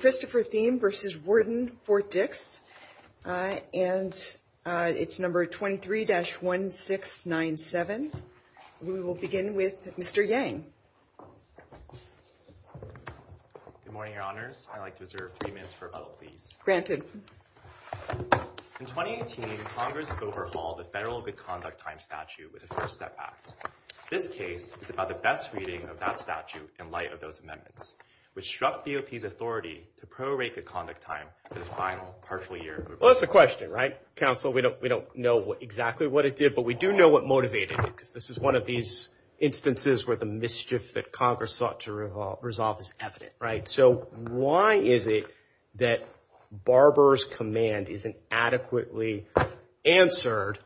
Christopher Thieme v. Warden FortDix and it's number 23-1697. We will begin with Mr. Yang. Good morning, Your Honors. I'd like to reserve three minutes for rebuttal, please. Granted. In 2018, Congress overhauled the Federal Good Conduct Time Statute with the First Step Act. This case is about the best reading of that statute in light of those amendments, which struck DOP's authority to prorate good conduct time for the final partial year. Well, that's the question, right? Counsel, we don't know exactly what it did, but we do know what motivated it, because this is one of these instances where the mischief that Congress sought to resolve is evident, right? So, why is it that Barber's command isn't adequately answered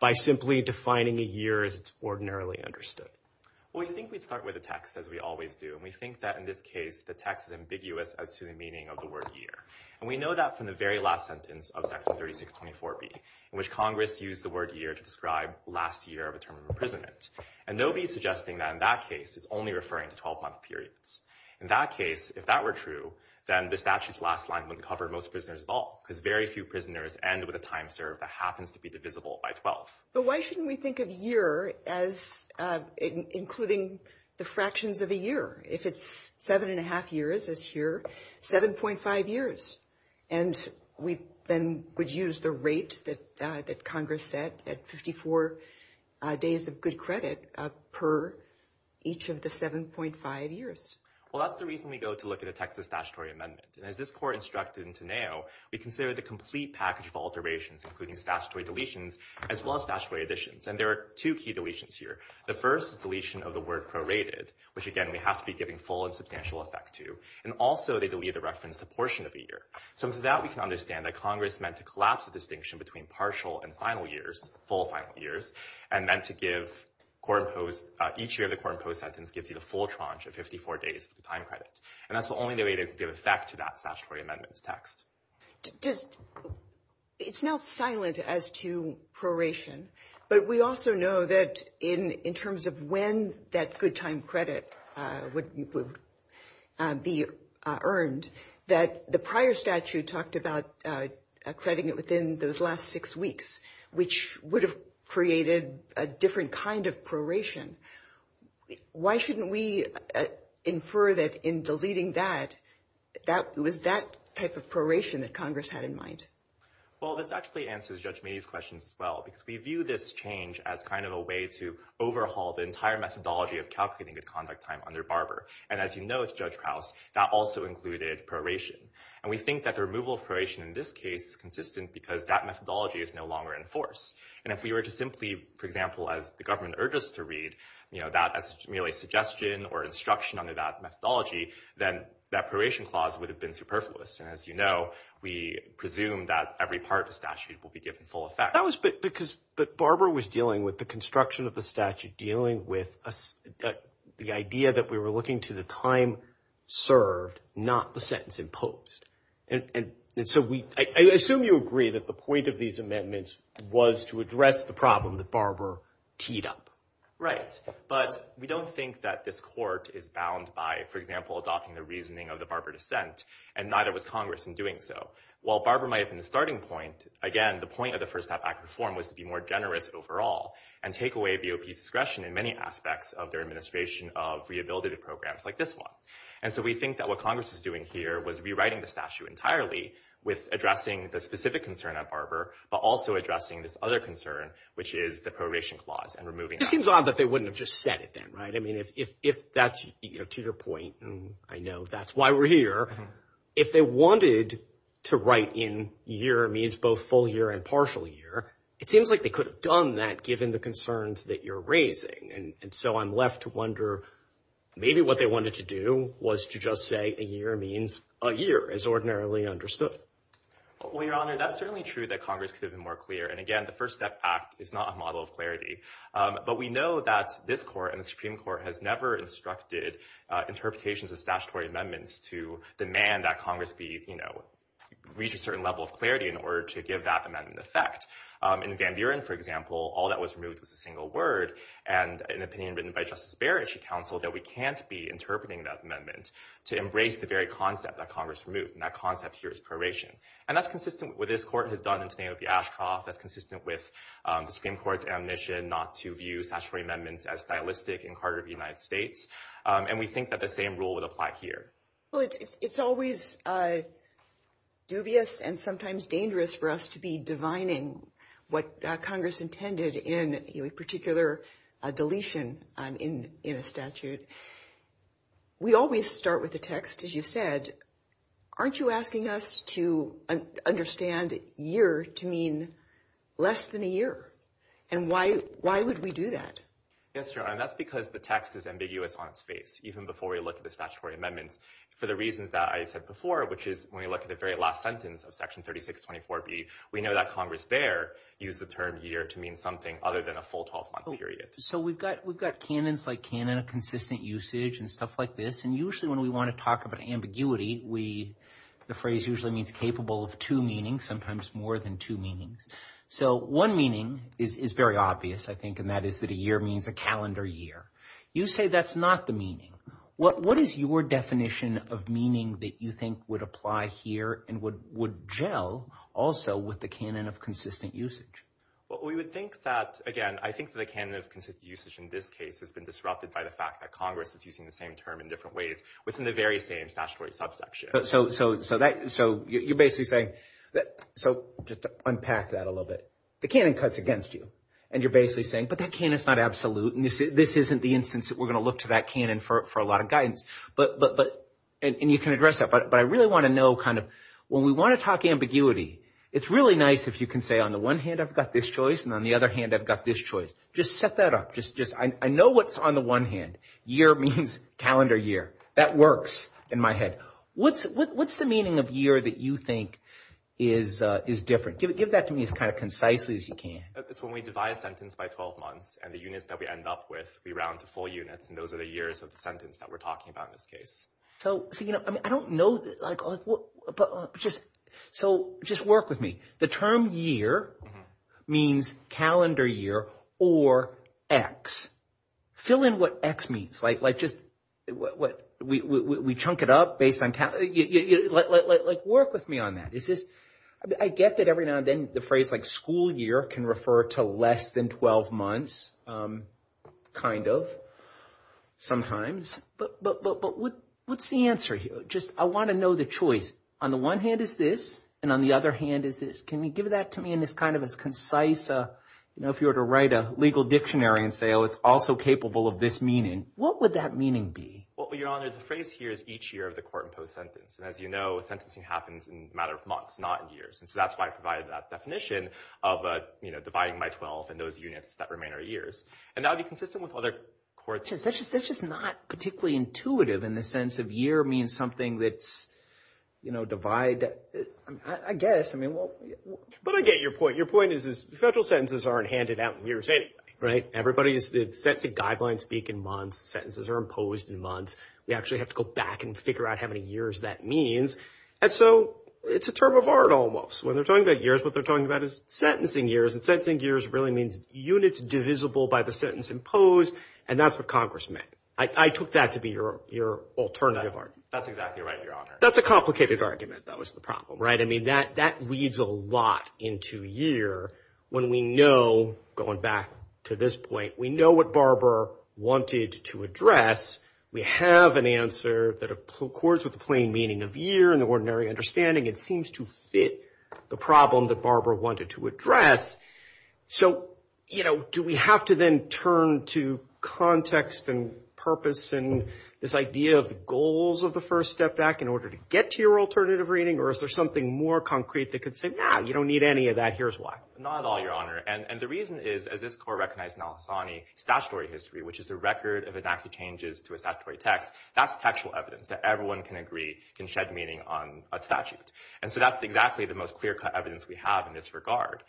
by simply defining a year as it's ordinarily understood? Well, we think we'd start with a text, as we always do. And we think that in this case, the text is ambiguous as to the meaning of the word year. And we know that from the very last sentence of Section 3624B, in which Congress used the word year to describe last year of a term of imprisonment. And nobody's suggesting that in that case, it's only referring to 12-month periods. In that case, if that were true, then the statute's last line wouldn't cover most prisoners at all, because very few prisoners end with a time served that happens to be divisible by 12. But why shouldn't we think of year as including the fractions of a year? If it's seven and a half years as here, 7.5 years. And we then would use the rate that Congress said at 54 days of good credit per each of the 7.5 years. Well, that's the reason we go to look at a Texas statutory amendment. And as this court instructed in Teneo, we consider the complete package of including statutory deletions, as well as statutory additions. And there are two key deletions here. The first is deletion of the word prorated, which again, we have to be giving full and substantial effect to. And also, they delete the reference to portion of a year. So that we can understand that Congress meant to collapse the distinction between partial and final years, full final years, and then to give each year of the court imposed sentence gives you the full tranche of 54 days of time credit. And that's the only way to give effect to that statutory amendments text. It's now silent as to proration. But we also know that in terms of when that good time credit would be earned, that the prior statute talked about accrediting it within those last six weeks, which would have created a different kind of proration. Why shouldn't we infer that in deleting that, that was that type of proration that Congress had in mind? Well, this actually answers Judge Meady's questions as well, because we view this change as kind of a way to overhaul the entire methodology of calculating good conduct time under Barber. And as you know, it's Judge Krauss, that also included proration. And we think that the removal of proration in this case is consistent because that methodology is no longer in force. And if we were to simply, for example, as the government urges to read, you know, that as merely suggestion or instruction under that methodology, then that proration clause would have been superfluous. And as you know, we presume that every part of the statute will be given full effect. That was because Barber was dealing with the construction of the statute, dealing with the idea that we were looking to the time served, not the sentence imposed. And so I assume you agree that the point of these amendments was to address the problem that Barber teed up. Right. But we don't think that this court is bound by, for example, adopting the reasoning of the Barber dissent, and neither was Congress in doing so. While Barber might have been the starting point, again, the point of the First Half Act reform was to be more generous overall and take away BOP's discretion in many aspects of their administration of rehabilitative programs like this one. And so we think that what Congress is doing here was rewriting the statute entirely with addressing the specific concern at Barber, but also addressing this other concern, which is the proration clause and removing it. It seems odd that they wouldn't have just said it then, right? I mean, if that's, you know, to your point, and I know that's why we're here, if they wanted to write in year means both full year and partial year, it seems like they could have done that given the concerns that you're raising. And so I'm left to wonder, maybe what they wanted to do was to just say a year means a year as ordinarily understood. Well, Your Honor, that's certainly true that Congress could have been more clear. And again, the First Step Act is not a model of clarity. But we know that this court and the Supreme Court has never instructed interpretations of statutory amendments to demand that Congress be, you know, reach a certain level of clarity in order to give that amendment effect. In Van Buren, for example, all that was removed was a single word and an opinion written by Justice Barrett, she counseled that we can't be interpreting that amendment to embrace the very concept that Congress removed. And that concept here is proration. And that's consistent with what this court has done in the Supreme Court's admission not to view statutory amendments as stylistic in Carter v. United States. And we think that the same rule would apply here. Well, it's always dubious and sometimes dangerous for us to be divining what Congress intended in a particular deletion in a statute. We always start with the text, as you've said. Aren't you asking us to understand year to mean less than a year? And why? Why would we do that? Yes, Your Honor, that's because the text is ambiguous on its face, even before we look at the statutory amendments, for the reasons that I said before, which is when we look at the very last sentence of Section 3624B, we know that Congress there used the term year to mean something other than a full 12-month period. So we've got we've got canons like canon of consistent usage and stuff like this. And we want to talk about ambiguity. We the phrase usually means capable of two meanings, sometimes more than two meanings. So one meaning is very obvious, I think, and that is that a year means a calendar year. You say that's not the meaning. What is your definition of meaning that you think would apply here and what would gel also with the canon of consistent usage? Well, we would think that, again, I think the canon of consistent usage in this case has been the very same statutory subsection. So so so that so you're basically saying that so just to unpack that a little bit, the canon cuts against you and you're basically saying, but that canon is not absolute. And this isn't the instance that we're going to look to that canon for for a lot of guidance. But but but and you can address that. But I really want to know kind of when we want to talk ambiguity, it's really nice if you can say, on the one hand, I've got this choice and on the other hand, I've got this choice. Just set that up. Just just I know what's on the one hand. Year means calendar year. That works in my head. What's what's the meaning of year that you think is is different? Give it give that to me as kind of concisely as you can. It's when we divide a sentence by 12 months and the units that we end up with, we round to four units. And those are the years of the sentence that we're talking about in this case. So so, you know, I mean, I don't know. But just so just work with me. The term year means calendar year or X. Fill in what X means like like just what we chunk it up based on like work with me on that. Is this I get that every now and then the phrase like school year can refer to less than 12 months, kind of sometimes. But but but what what's the answer here? Just I want to know the choice on the one hand is this and on the other hand is this. Give that to me in this kind of as concise, you know, if you were to write a legal dictionary and say, oh, it's also capable of this meaning. What would that meaning be? Well, your honor, the phrase here is each year of the court imposed sentence. And as you know, sentencing happens in a matter of months, not years. And so that's why I provided that definition of, you know, dividing by 12 and those units that remain are years. And that would be consistent with other courts. That's just that's just not particularly intuitive in the sense of year means something that's, you know, divide, I guess. I mean, well, but I get your point. Your point is, is federal sentences aren't handed out in years. Right. Everybody is set to guideline speak in months. Sentences are imposed in months. We actually have to go back and figure out how many years that means. And so it's a term of art almost when they're talking about years, what they're talking about is sentencing years and sentencing years really means units divisible by the sentence imposed. And that's what Congress meant. I took that to be your your alternative. That's exactly right. That's a complicated argument. That was the problem. Right. I mean, that that reads a lot into year when we know going back to this point, we know what Barbara wanted to address. We have an answer that accords with the plain meaning of year and the ordinary understanding. It seems to fit the problem that Barbara wanted to address. So, you know, do we have to then turn to context and purpose and this idea of the goals of the first step back in order to get to your alternative reading? Or is there something more concrete that could say, no, you don't need any of that? Here's why. Not at all, your honor. And the reason is, as this court recognized in Al-Hassani, statutory history, which is the record of enacted changes to a statutory text. That's textual evidence that everyone can agree can shed meaning on a statute. And so that's exactly the most clear cut evidence we have in this regard.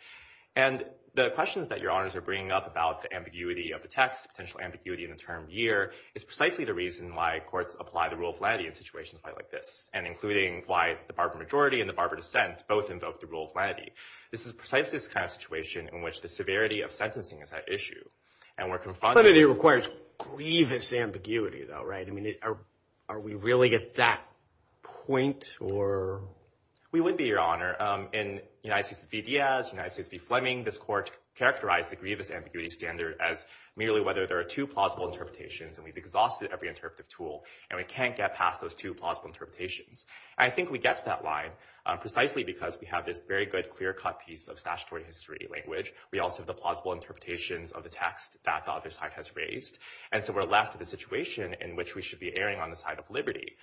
And the questions that your honors are bringing up about the ambiguity of the text, potential ambiguity in the term year, is precisely the reason why courts apply the rule of lenity in situations quite like this, and including why the Barbara majority and the Barbara dissent both invoked the rule of lenity. This is precisely this kind of situation in which the severity of sentencing is at issue. And we're confronted. But it requires grievous ambiguity, though, right? I mean, are we really at that point, or? We would be, your honor. In United States v. Diaz, United States v. Fleming, this court characterized the grievous ambiguity standard as merely whether there are two plausible interpretations. And we've exhausted every interpretive tool. And we can't get past those two plausible interpretations. I think we get to that line precisely because we have this very good clear cut piece of statutory history language. We also have the plausible interpretations of the text that the other side has raised. And so we're left with a situation in which we should be erring on the side of liberty,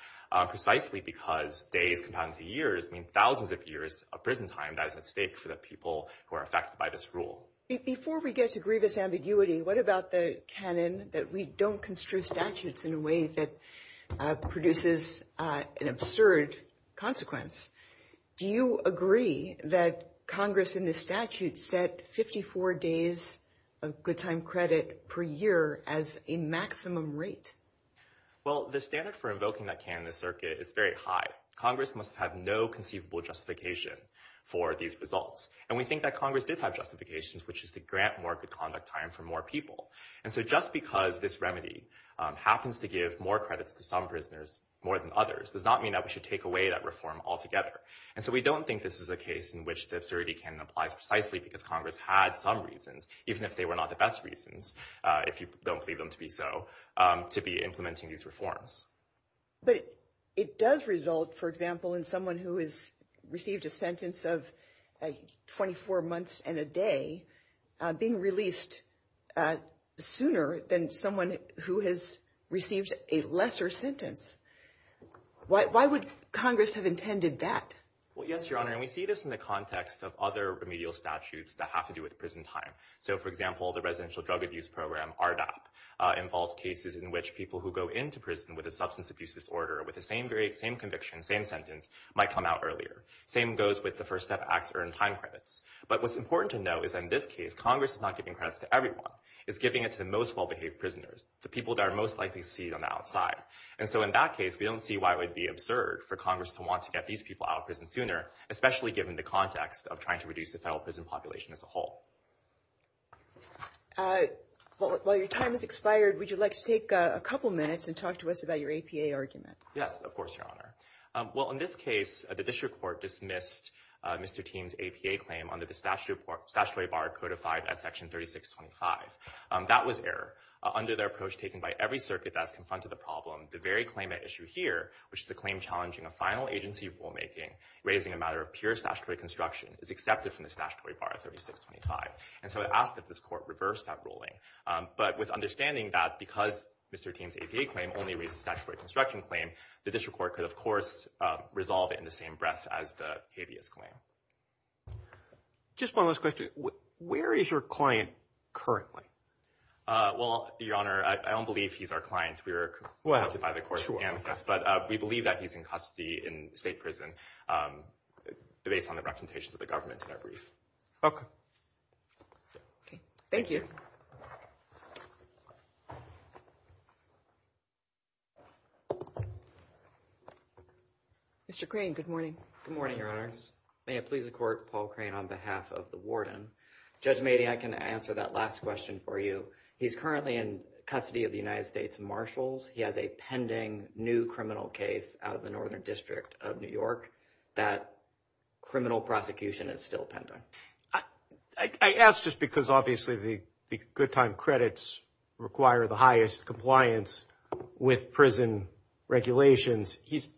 precisely because days compounded to years mean thousands of years of prison time that is at stake for the people who are affected by this rule. Before we get to grievous ambiguity, what about the canon that we don't construe statutes in a way that produces an absurd consequence? Do you agree that Congress in the statute set 54 days of good time credit per year as a maximum rate? Well, the standard for invoking that canon in the circuit is very high. Congress must have no conceivable justification for these results. And we think that Congress did have justifications, which is to grant more good conduct time for more people. And so just because this remedy happens to give more credits to some prisoners more than others does not mean that we should take away that reform altogether. And so we don't think this is a case in which the absurdity canon applies precisely because Congress had some reasons, even if they were not the best reasons, if you don't believe them to be so, to be implementing these reforms. But it does result, for example, in someone who has received a sentence of 24 months and a day being released sooner than someone who has received a lesser sentence. Why would Congress have intended that? Well, yes, Your Honor, and we see this in the context of other remedial statutes that have to do with prison time. So, for example, the Residential Drug Abuse Program, RDAP, involves cases in which people who go into prison with a substance abuse disorder with the same conviction, same sentence, might come out earlier. Same goes with the First Step Act's earned time credits. But what's important to know is in this case, Congress is not giving credits to everyone. It's giving it to the most well-behaved prisoners, the people that are most likely to see them outside. And so in that case, we don't see why it would be absurd for Congress to want to get these people out of prison sooner, especially given the context of trying to reduce the federal prison population as a whole. While your time has expired, would you like to take a couple minutes and talk to us about your APA argument? Yes, of course, Your Honor. Well, in this case, the District Court dismissed Mr. Teem's APA claim under the statutory bar codified at Section 3625. That was error. Under their approach, taken by every circuit that's confronted the problem, the very claim at issue here, which is the claim challenging a final agency rulemaking raising a matter of pure statutory construction, is accepted from the statutory bar of 3625. And so it asked that this court reverse that ruling. But with understanding that because Mr. Teem's APA claim only raises a statutory construction claim, the District Court could, of course, resolve it in the same breath as the habeas claim. Just one last question. Where is your client currently? Well, Your Honor, I don't believe he's our client. We were contacted by the court. But we believe that he's in custody in state prison based on the representations of the government in our brief. Thank you. Mr. Crane, good morning. Good morning, Your Honors. May it please the Court, Paul Crane on behalf of the Warden. Judge Mady, I can answer that last question for you. He's currently in custody of the United New Criminal case out of the Northern District of New York. That criminal prosecution is still pending. I ask just because obviously the good time credits require the highest compliance with prison regulations. He's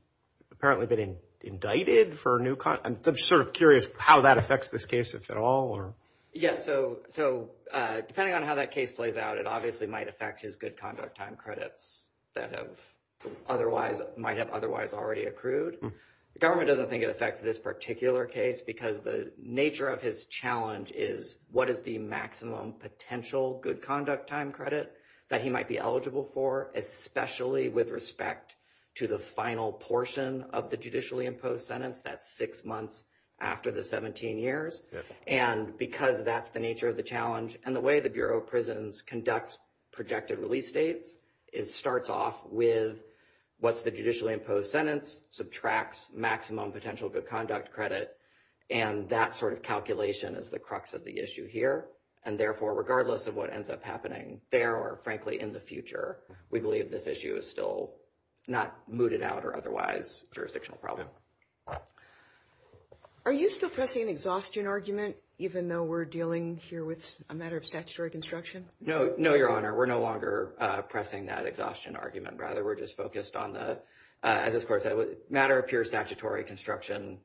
apparently been indicted for a new... I'm sort of curious how that affects this case, if at all. Yeah. So depending on how that case plays out, it obviously might affect his good conduct time credits that might have otherwise already accrued. The government doesn't think it affects this particular case because the nature of his challenge is what is the maximum potential good conduct time credit that he might be eligible for, especially with respect to the final portion of the judicially imposed sentence, that's six months after the 17 years. And because that's the nature of the challenge and the way the Bureau of Prisons conducts projected release dates, it starts off with what's the judicially imposed sentence, subtracts maximum potential good conduct credit, and that sort of calculation is the crux of the issue here. And therefore, regardless of what ends up happening there or frankly in the future, we believe this issue is still not mooted out or otherwise jurisdictional problem. Are you still pressing an exhaustion argument even though we're dealing here with a matter of statutory construction? No, no, Your Honor. We're no longer pressing that exhaustion argument. Rather, we're just focused on the, as this court said, matter of pure statutory construction,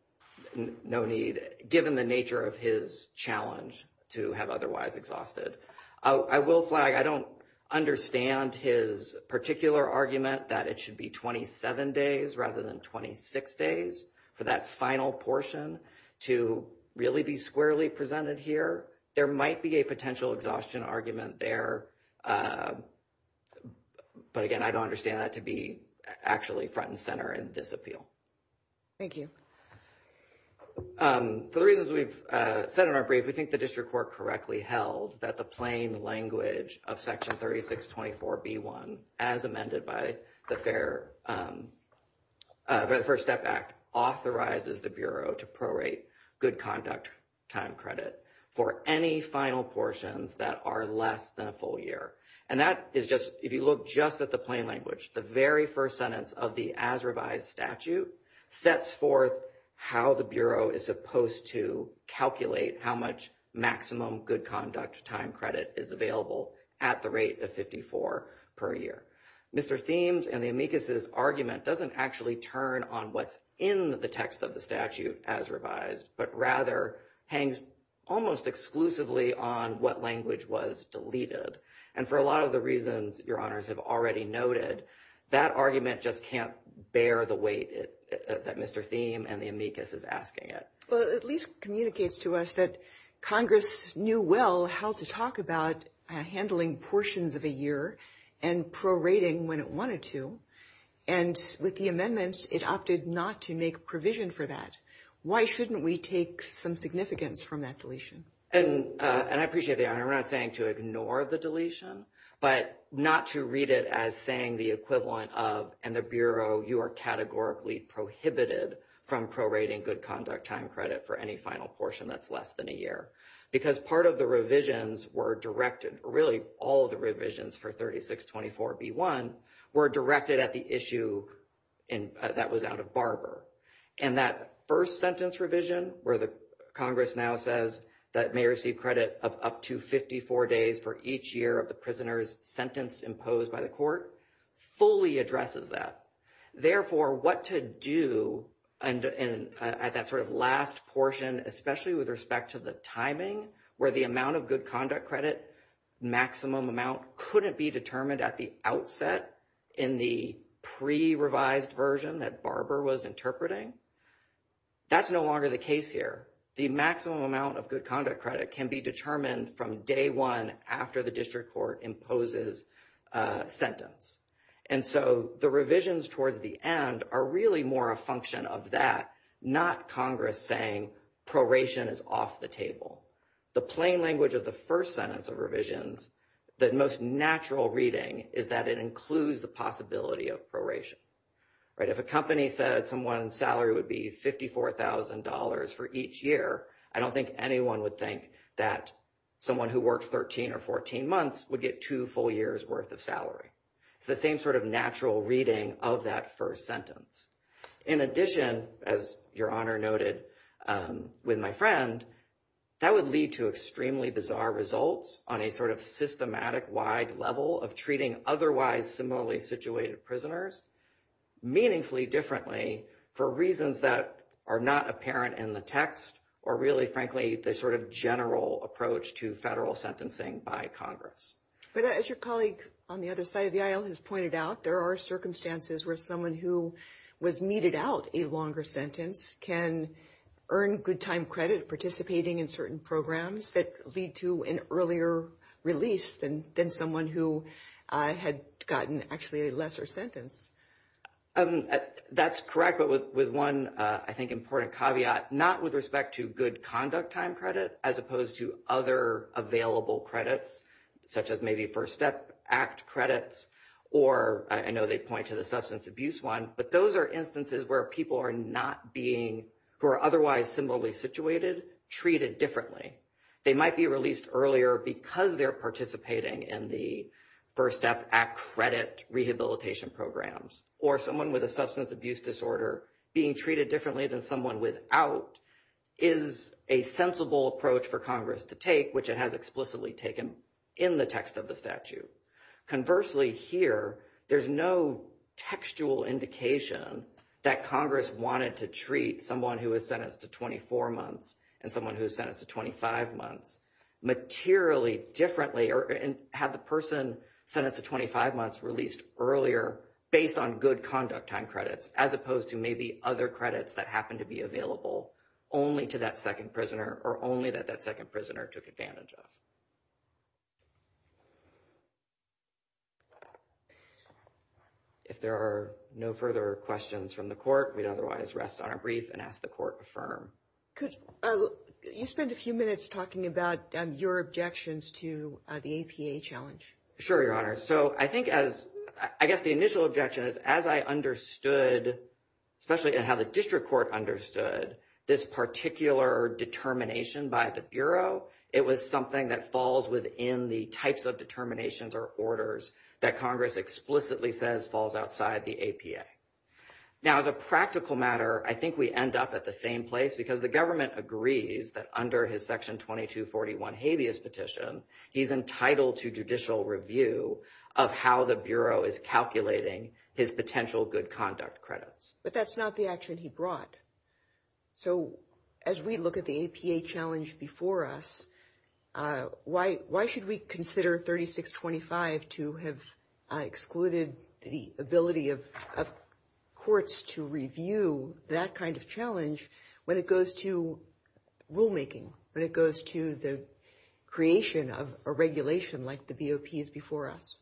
no need, given the nature of his challenge to have otherwise exhausted. I will flag, I don't understand his particular argument that it should be 27 days rather than 26 days for that final portion to really be squarely presented here. There might be a potential exhaustion argument there, but again, I don't understand that to be actually front and center in this appeal. Thank you. For the reasons we've said in our brief, we think the district court correctly held that the plain language of Section 3624B1, as amended by the First Step Act, authorizes the Bureau to prorate good conduct time credit for any final portions that are less than a full year. And that is just, if you look just at the plain language, the very first sentence of the as revised statute sets forth how the Bureau is supposed to calculate how much maximum good conduct time credit is available at the rate of 54 per year. Mr. Thiem's and the amicus's argument doesn't actually turn on what's in the text of the statute as revised, but rather hangs almost exclusively on what language was deleted. And for a lot of the reasons your honors have already noted, that argument just can't bear the weight that Mr. Thiem and the amicus is asking it. Well, at least communicates to us that Congress knew well how to talk about handling portions of a year and prorating when it wanted to. And with the amendments, it opted not to make provision for that. Why shouldn't we take some significance from that deletion? And I appreciate the honor. I'm not saying to ignore the deletion, but not to read it as saying the equivalent of, and the Bureau, you are categorically prohibited from prorating good conduct time credit for any final portion that's less than a year. Because part of the revisions were directed, really all of the revisions for 3624B1 were directed at the issue that was out of Barber. And that first sentence revision where the Congress now says that may receive credit of up to 54 days for each year of the prisoners sentenced imposed by the court, fully addresses that. Therefore, what to do at that sort of last portion, especially with respect to the timing, where the amount of good conduct credit, maximum amount, couldn't be determined at the outset in the pre-revised version that Barber was interpreting, that's no longer the case here. The maximum amount of good conduct credit can be determined from day one after the district court imposes a sentence. And so the revisions towards the end are really more a function of that, not Congress saying proration is off the table. The plain language of the first sentence of revisions, the most natural reading is that it includes the possibility of proration. If a company said someone's salary would be $54,000 for each year, I don't think anyone would think that someone who worked 13 or 14 months would get two full years worth of salary. It's the same sort of natural reading of that first sentence. In addition, as your honor noted with my friend, that would lead to extremely bizarre results on a sort of systematic wide level of treating otherwise similarly situated prisoners meaningfully differently for reasons that are not apparent in the text, or really, frankly, the sort of general approach to federal side of the aisle has pointed out, there are circumstances where someone who was meted out a longer sentence can earn good time credit participating in certain programs that lead to an earlier release than someone who had gotten actually a lesser sentence. That's correct. But with one, I think, important caveat, not with respect to good conduct time as opposed to other available credits, such as maybe First Step Act credits, or I know they point to the substance abuse one, but those are instances where people are not being, who are otherwise similarly situated, treated differently. They might be released earlier because they're participating in the First Step Act credit rehabilitation programs, or someone with a approach for Congress to take, which it has explicitly taken in the text of the statute. Conversely, here, there's no textual indication that Congress wanted to treat someone who was sentenced to 24 months and someone who was sentenced to 25 months materially differently, or had the person sentenced to 25 months released earlier based on good conduct time credits, as opposed to maybe other credits that happen to be available only to that second prisoner, or only that that second prisoner took advantage of. If there are no further questions from the court, we'd otherwise rest on a brief and ask the court to affirm. You spent a few minutes talking about your objections to the APA challenge. Sure, Your Honor. I guess the initial objection is, as I understood, especially in how the district court understood this particular determination by the Bureau, it was something that falls within the types of determinations or orders that Congress explicitly says falls outside the APA. Now, as a practical matter, I think we end up at the same place, because the government agrees that under his Section 2241 habeas petition, he's entitled to judicial review of how the Bureau is calculating his potential good conduct credits. But that's not the action he brought. So as we look at the APA challenge before us, why should we consider 3625 to have excluded the ability of courts to review that kind of challenge when it goes to rulemaking, when it goes to the creation of a regulation like the BOPs before us?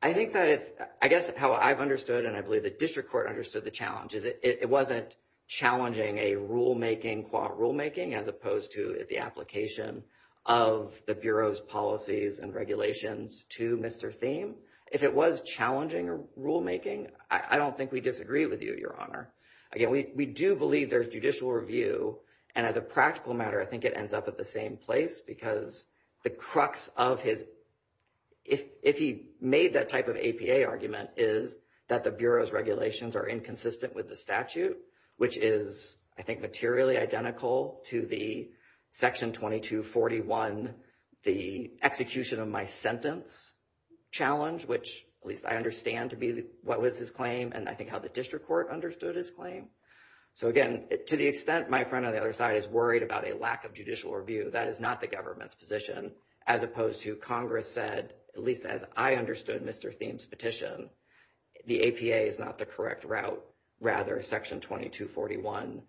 I think that if, I guess how I've understood and I believe the district court understood the challenges, it wasn't challenging a rulemaking, qua rulemaking, as opposed to the application of the Bureau's policies and regulations to Mr. Thieme. If it was challenging rulemaking, I don't think we disagree with you, Your Honor. Again, we do believe there's judicial review. And as a practical matter, I think it ends up at the same place, because the crux of his, if he made that type of APA argument, is that the Bureau's regulations are inconsistent with the statute, which is, I think, materially identical to the Section 2241, the execution of my sentence challenge, which at least I understand to be what was his claim and I think the district court understood his claim. So again, to the extent my friend on the other side is worried about a lack of judicial review, that is not the government's position, as opposed to Congress said, at least as I understood Mr. Thieme's petition, the APA is not the correct route. Rather, Section 2241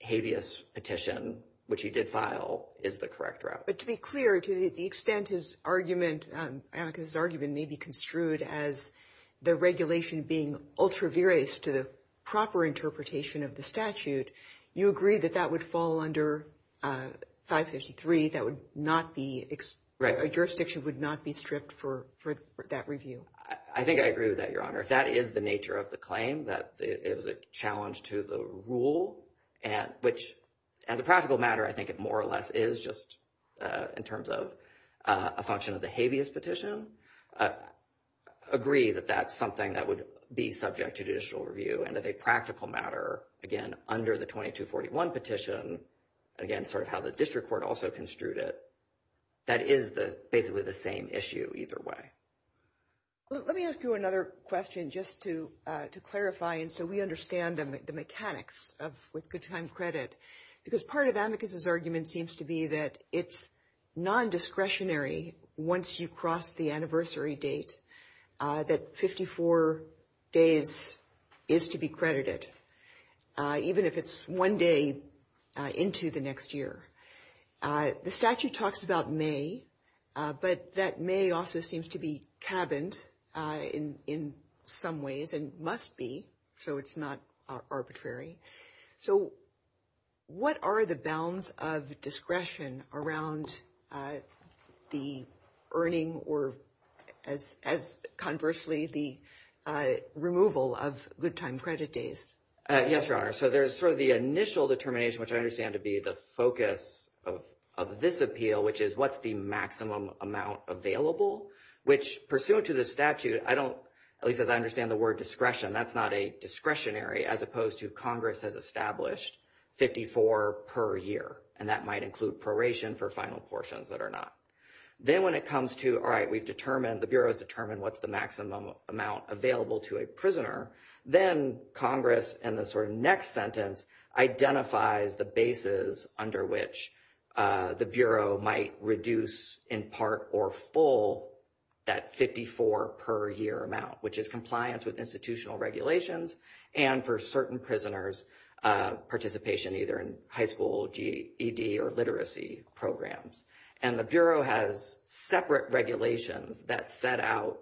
habeas petition, which he did file, is the correct route. But to be clear, to the extent his argument, his argument may be construed as the regulation being ultra-viris to the proper interpretation of the statute, you agree that that would fall under 553, that would not be, a jurisdiction would not be stripped for that review? I think I agree with that, Your Honor. If that is the nature of the claim, that it was a challenge to the rule, which as a practical matter, I think it more or less is, just in terms of a function of the habeas petition, I agree that that's something that would be subject to judicial review. And as a practical matter, again, under the 2241 petition, again, sort of how the district court also construed it, that is basically the same issue either way. Let me ask you another question just to clarify, and so we understand the mechanics of with good time credit. Because part of Amicus's argument seems to be that it's non-discretionary once you cross the anniversary date that 54 days is to be credited, even if it's one day into the next year. The statute talks about May, but that May also seems to be cabined in some ways, and must be, so it's not arbitrary. So what are the bounds of discretion around the earning or, as conversely, the removal of good time credit days? Yes, Your Honor. So there's sort of the initial determination, which I understand to be the focus of this appeal, which is what's the maximum amount available, which pursuant to the statute, I don't, at least as I understand the word discretion, that's not a discretionary as opposed to Congress has established 54 per year, and that might include proration for final portions that are not. Then when it comes to, all right, we've determined, the Bureau has determined what's maximum amount available to a prisoner, then Congress, in the sort of next sentence, identifies the basis under which the Bureau might reduce in part or full that 54 per year amount, which is compliance with institutional regulations, and for certain prisoners, participation either in high school, GED, or literacy programs. And the Bureau has separate regulations that set out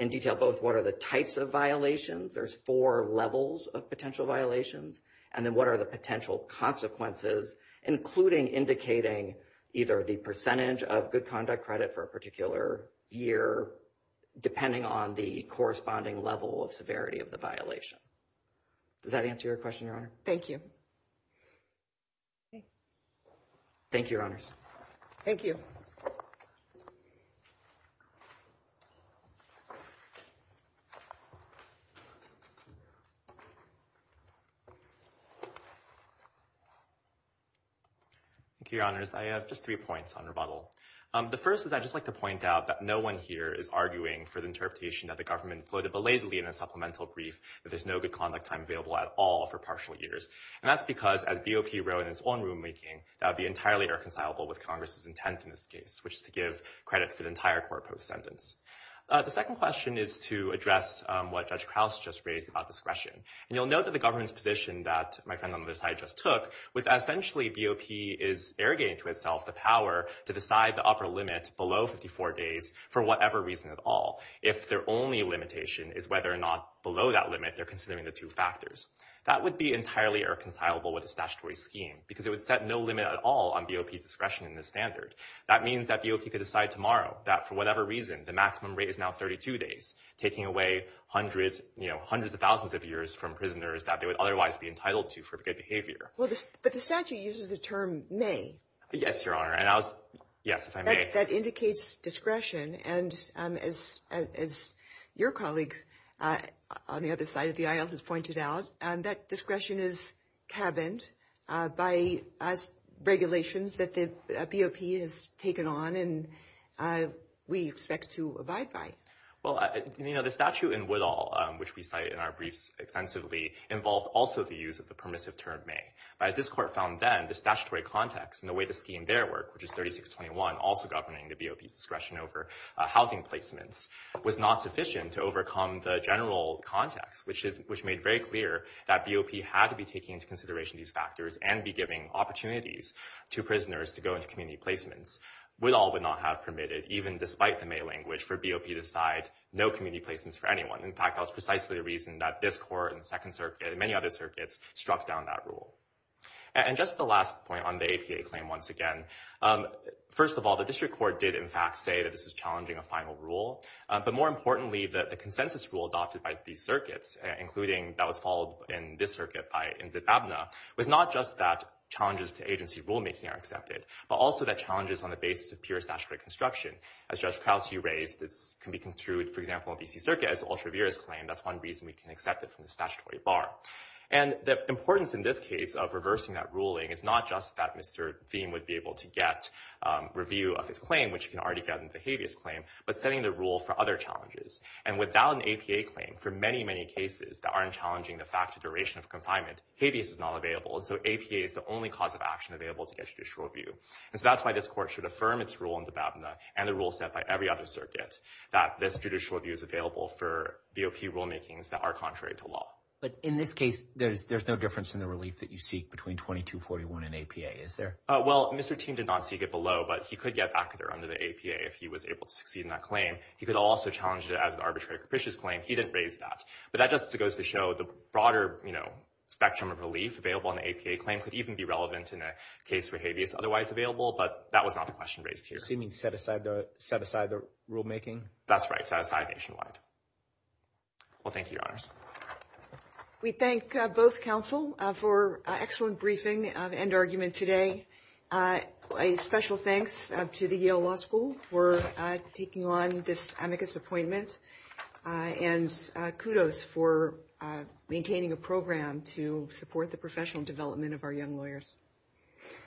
in detail both what are the types of violations, there's four levels of potential violations, and then what are the potential consequences, including indicating either the percentage of good conduct credit for a particular year, depending on the corresponding level of severity of the violation. Does that answer your question, Your Honor? Thank you. Okay. Thank you, Your Honors. Thank you. Thank you, Your Honors. I have just three points on rebuttal. The first is I'd just like to point out that no one here is arguing for the interpretation that the government floated belatedly in a supplemental brief that there's no good conduct time available at all for partial years. And that's because, as BOP wrote in its own rulemaking, that would be entirely irreconcilable with Congress's intent in this case, which is to give credit for the entire court-posed sentence. The second question is to address what Judge Krause just raised about discretion. And you'll note that the government's position that my friend on the other side just took was essentially BOP is arrogating to itself the power to decide the upper limit below 54 days for whatever reason at all, if their only limitation is whether or not below that limit they're considering the two factors. That would be entirely irreconcilable with the statutory scheme because it would set no limit at all on BOP's discretion in this standard. That means that BOP could decide tomorrow that, for whatever reason, the maximum rate is now 32 days, taking away hundreds, you know, hundreds of thousands of years from prisoners that they would otherwise be entitled to for good behavior. Well, but the statute uses the term may. Yes, Your Honor. And on the other side of the aisle has pointed out that discretion is cabined by regulations that the BOP has taken on and we expect to abide by. Well, you know, the statute in Woodall, which we cite in our briefs extensively, involved also the use of the permissive term may. But as this court found then, the statutory context and the way the scheme there work, which is 3621, also governing the BOP's discretion over housing placements, was not sufficient to overcome the general context, which made very clear that BOP had to be taking into consideration these factors and be giving opportunities to prisoners to go into community placements. Woodall would not have permitted, even despite the may language, for BOP to decide no community placements for anyone. In fact, that was precisely the reason that this court and the Second Circuit and many other circuits struck down that rule. And just the last point on the APA claim once again, first of all, the district court did in fact say that this is challenging a final rule. But more importantly, that the consensus rule adopted by these circuits, including that was followed in this circuit by in the ABNA, was not just that challenges to agency rulemaking are accepted, but also that challenges on the basis of pure statutory construction. As Judge Krause, you raised, this can be construed, for example, in B.C. Circuit as ultra-virus claim. That's one reason we can accept it from the statutory bar. And the importance in this case of reversing that ruling is not just that Mr. Thiem would be able to get review of his claim, which can already get in but setting the rule for other challenges. And without an APA claim for many, many cases that aren't challenging the fact of duration of confinement, habeas is not available. And so APA is the only cause of action available to get judicial review. And so that's why this court should affirm its rule in the ABNA and the rule set by every other circuit that this judicial review is available for BOP rulemakings that are contrary to law. But in this case, there's no difference in the relief that you seek between 2241 and APA, is there? Well, Mr. Thiem did not get below, but he could get back there under the APA if he was able to succeed in that claim. He could also challenge it as an arbitrary capricious claim. He didn't raise that. But that just goes to show the broader spectrum of relief available on the APA claim could even be relevant in a case where habeas is otherwise available, but that was not the question raised here. So you mean set aside the rulemaking? That's right, set aside nationwide. Well, thank you, Your Honors. We thank both counsel for an excellent briefing, end argument today. A special thanks to the Yale Law School for taking on this amicus appointment and kudos for maintaining a program to support the professional development of our young lawyers.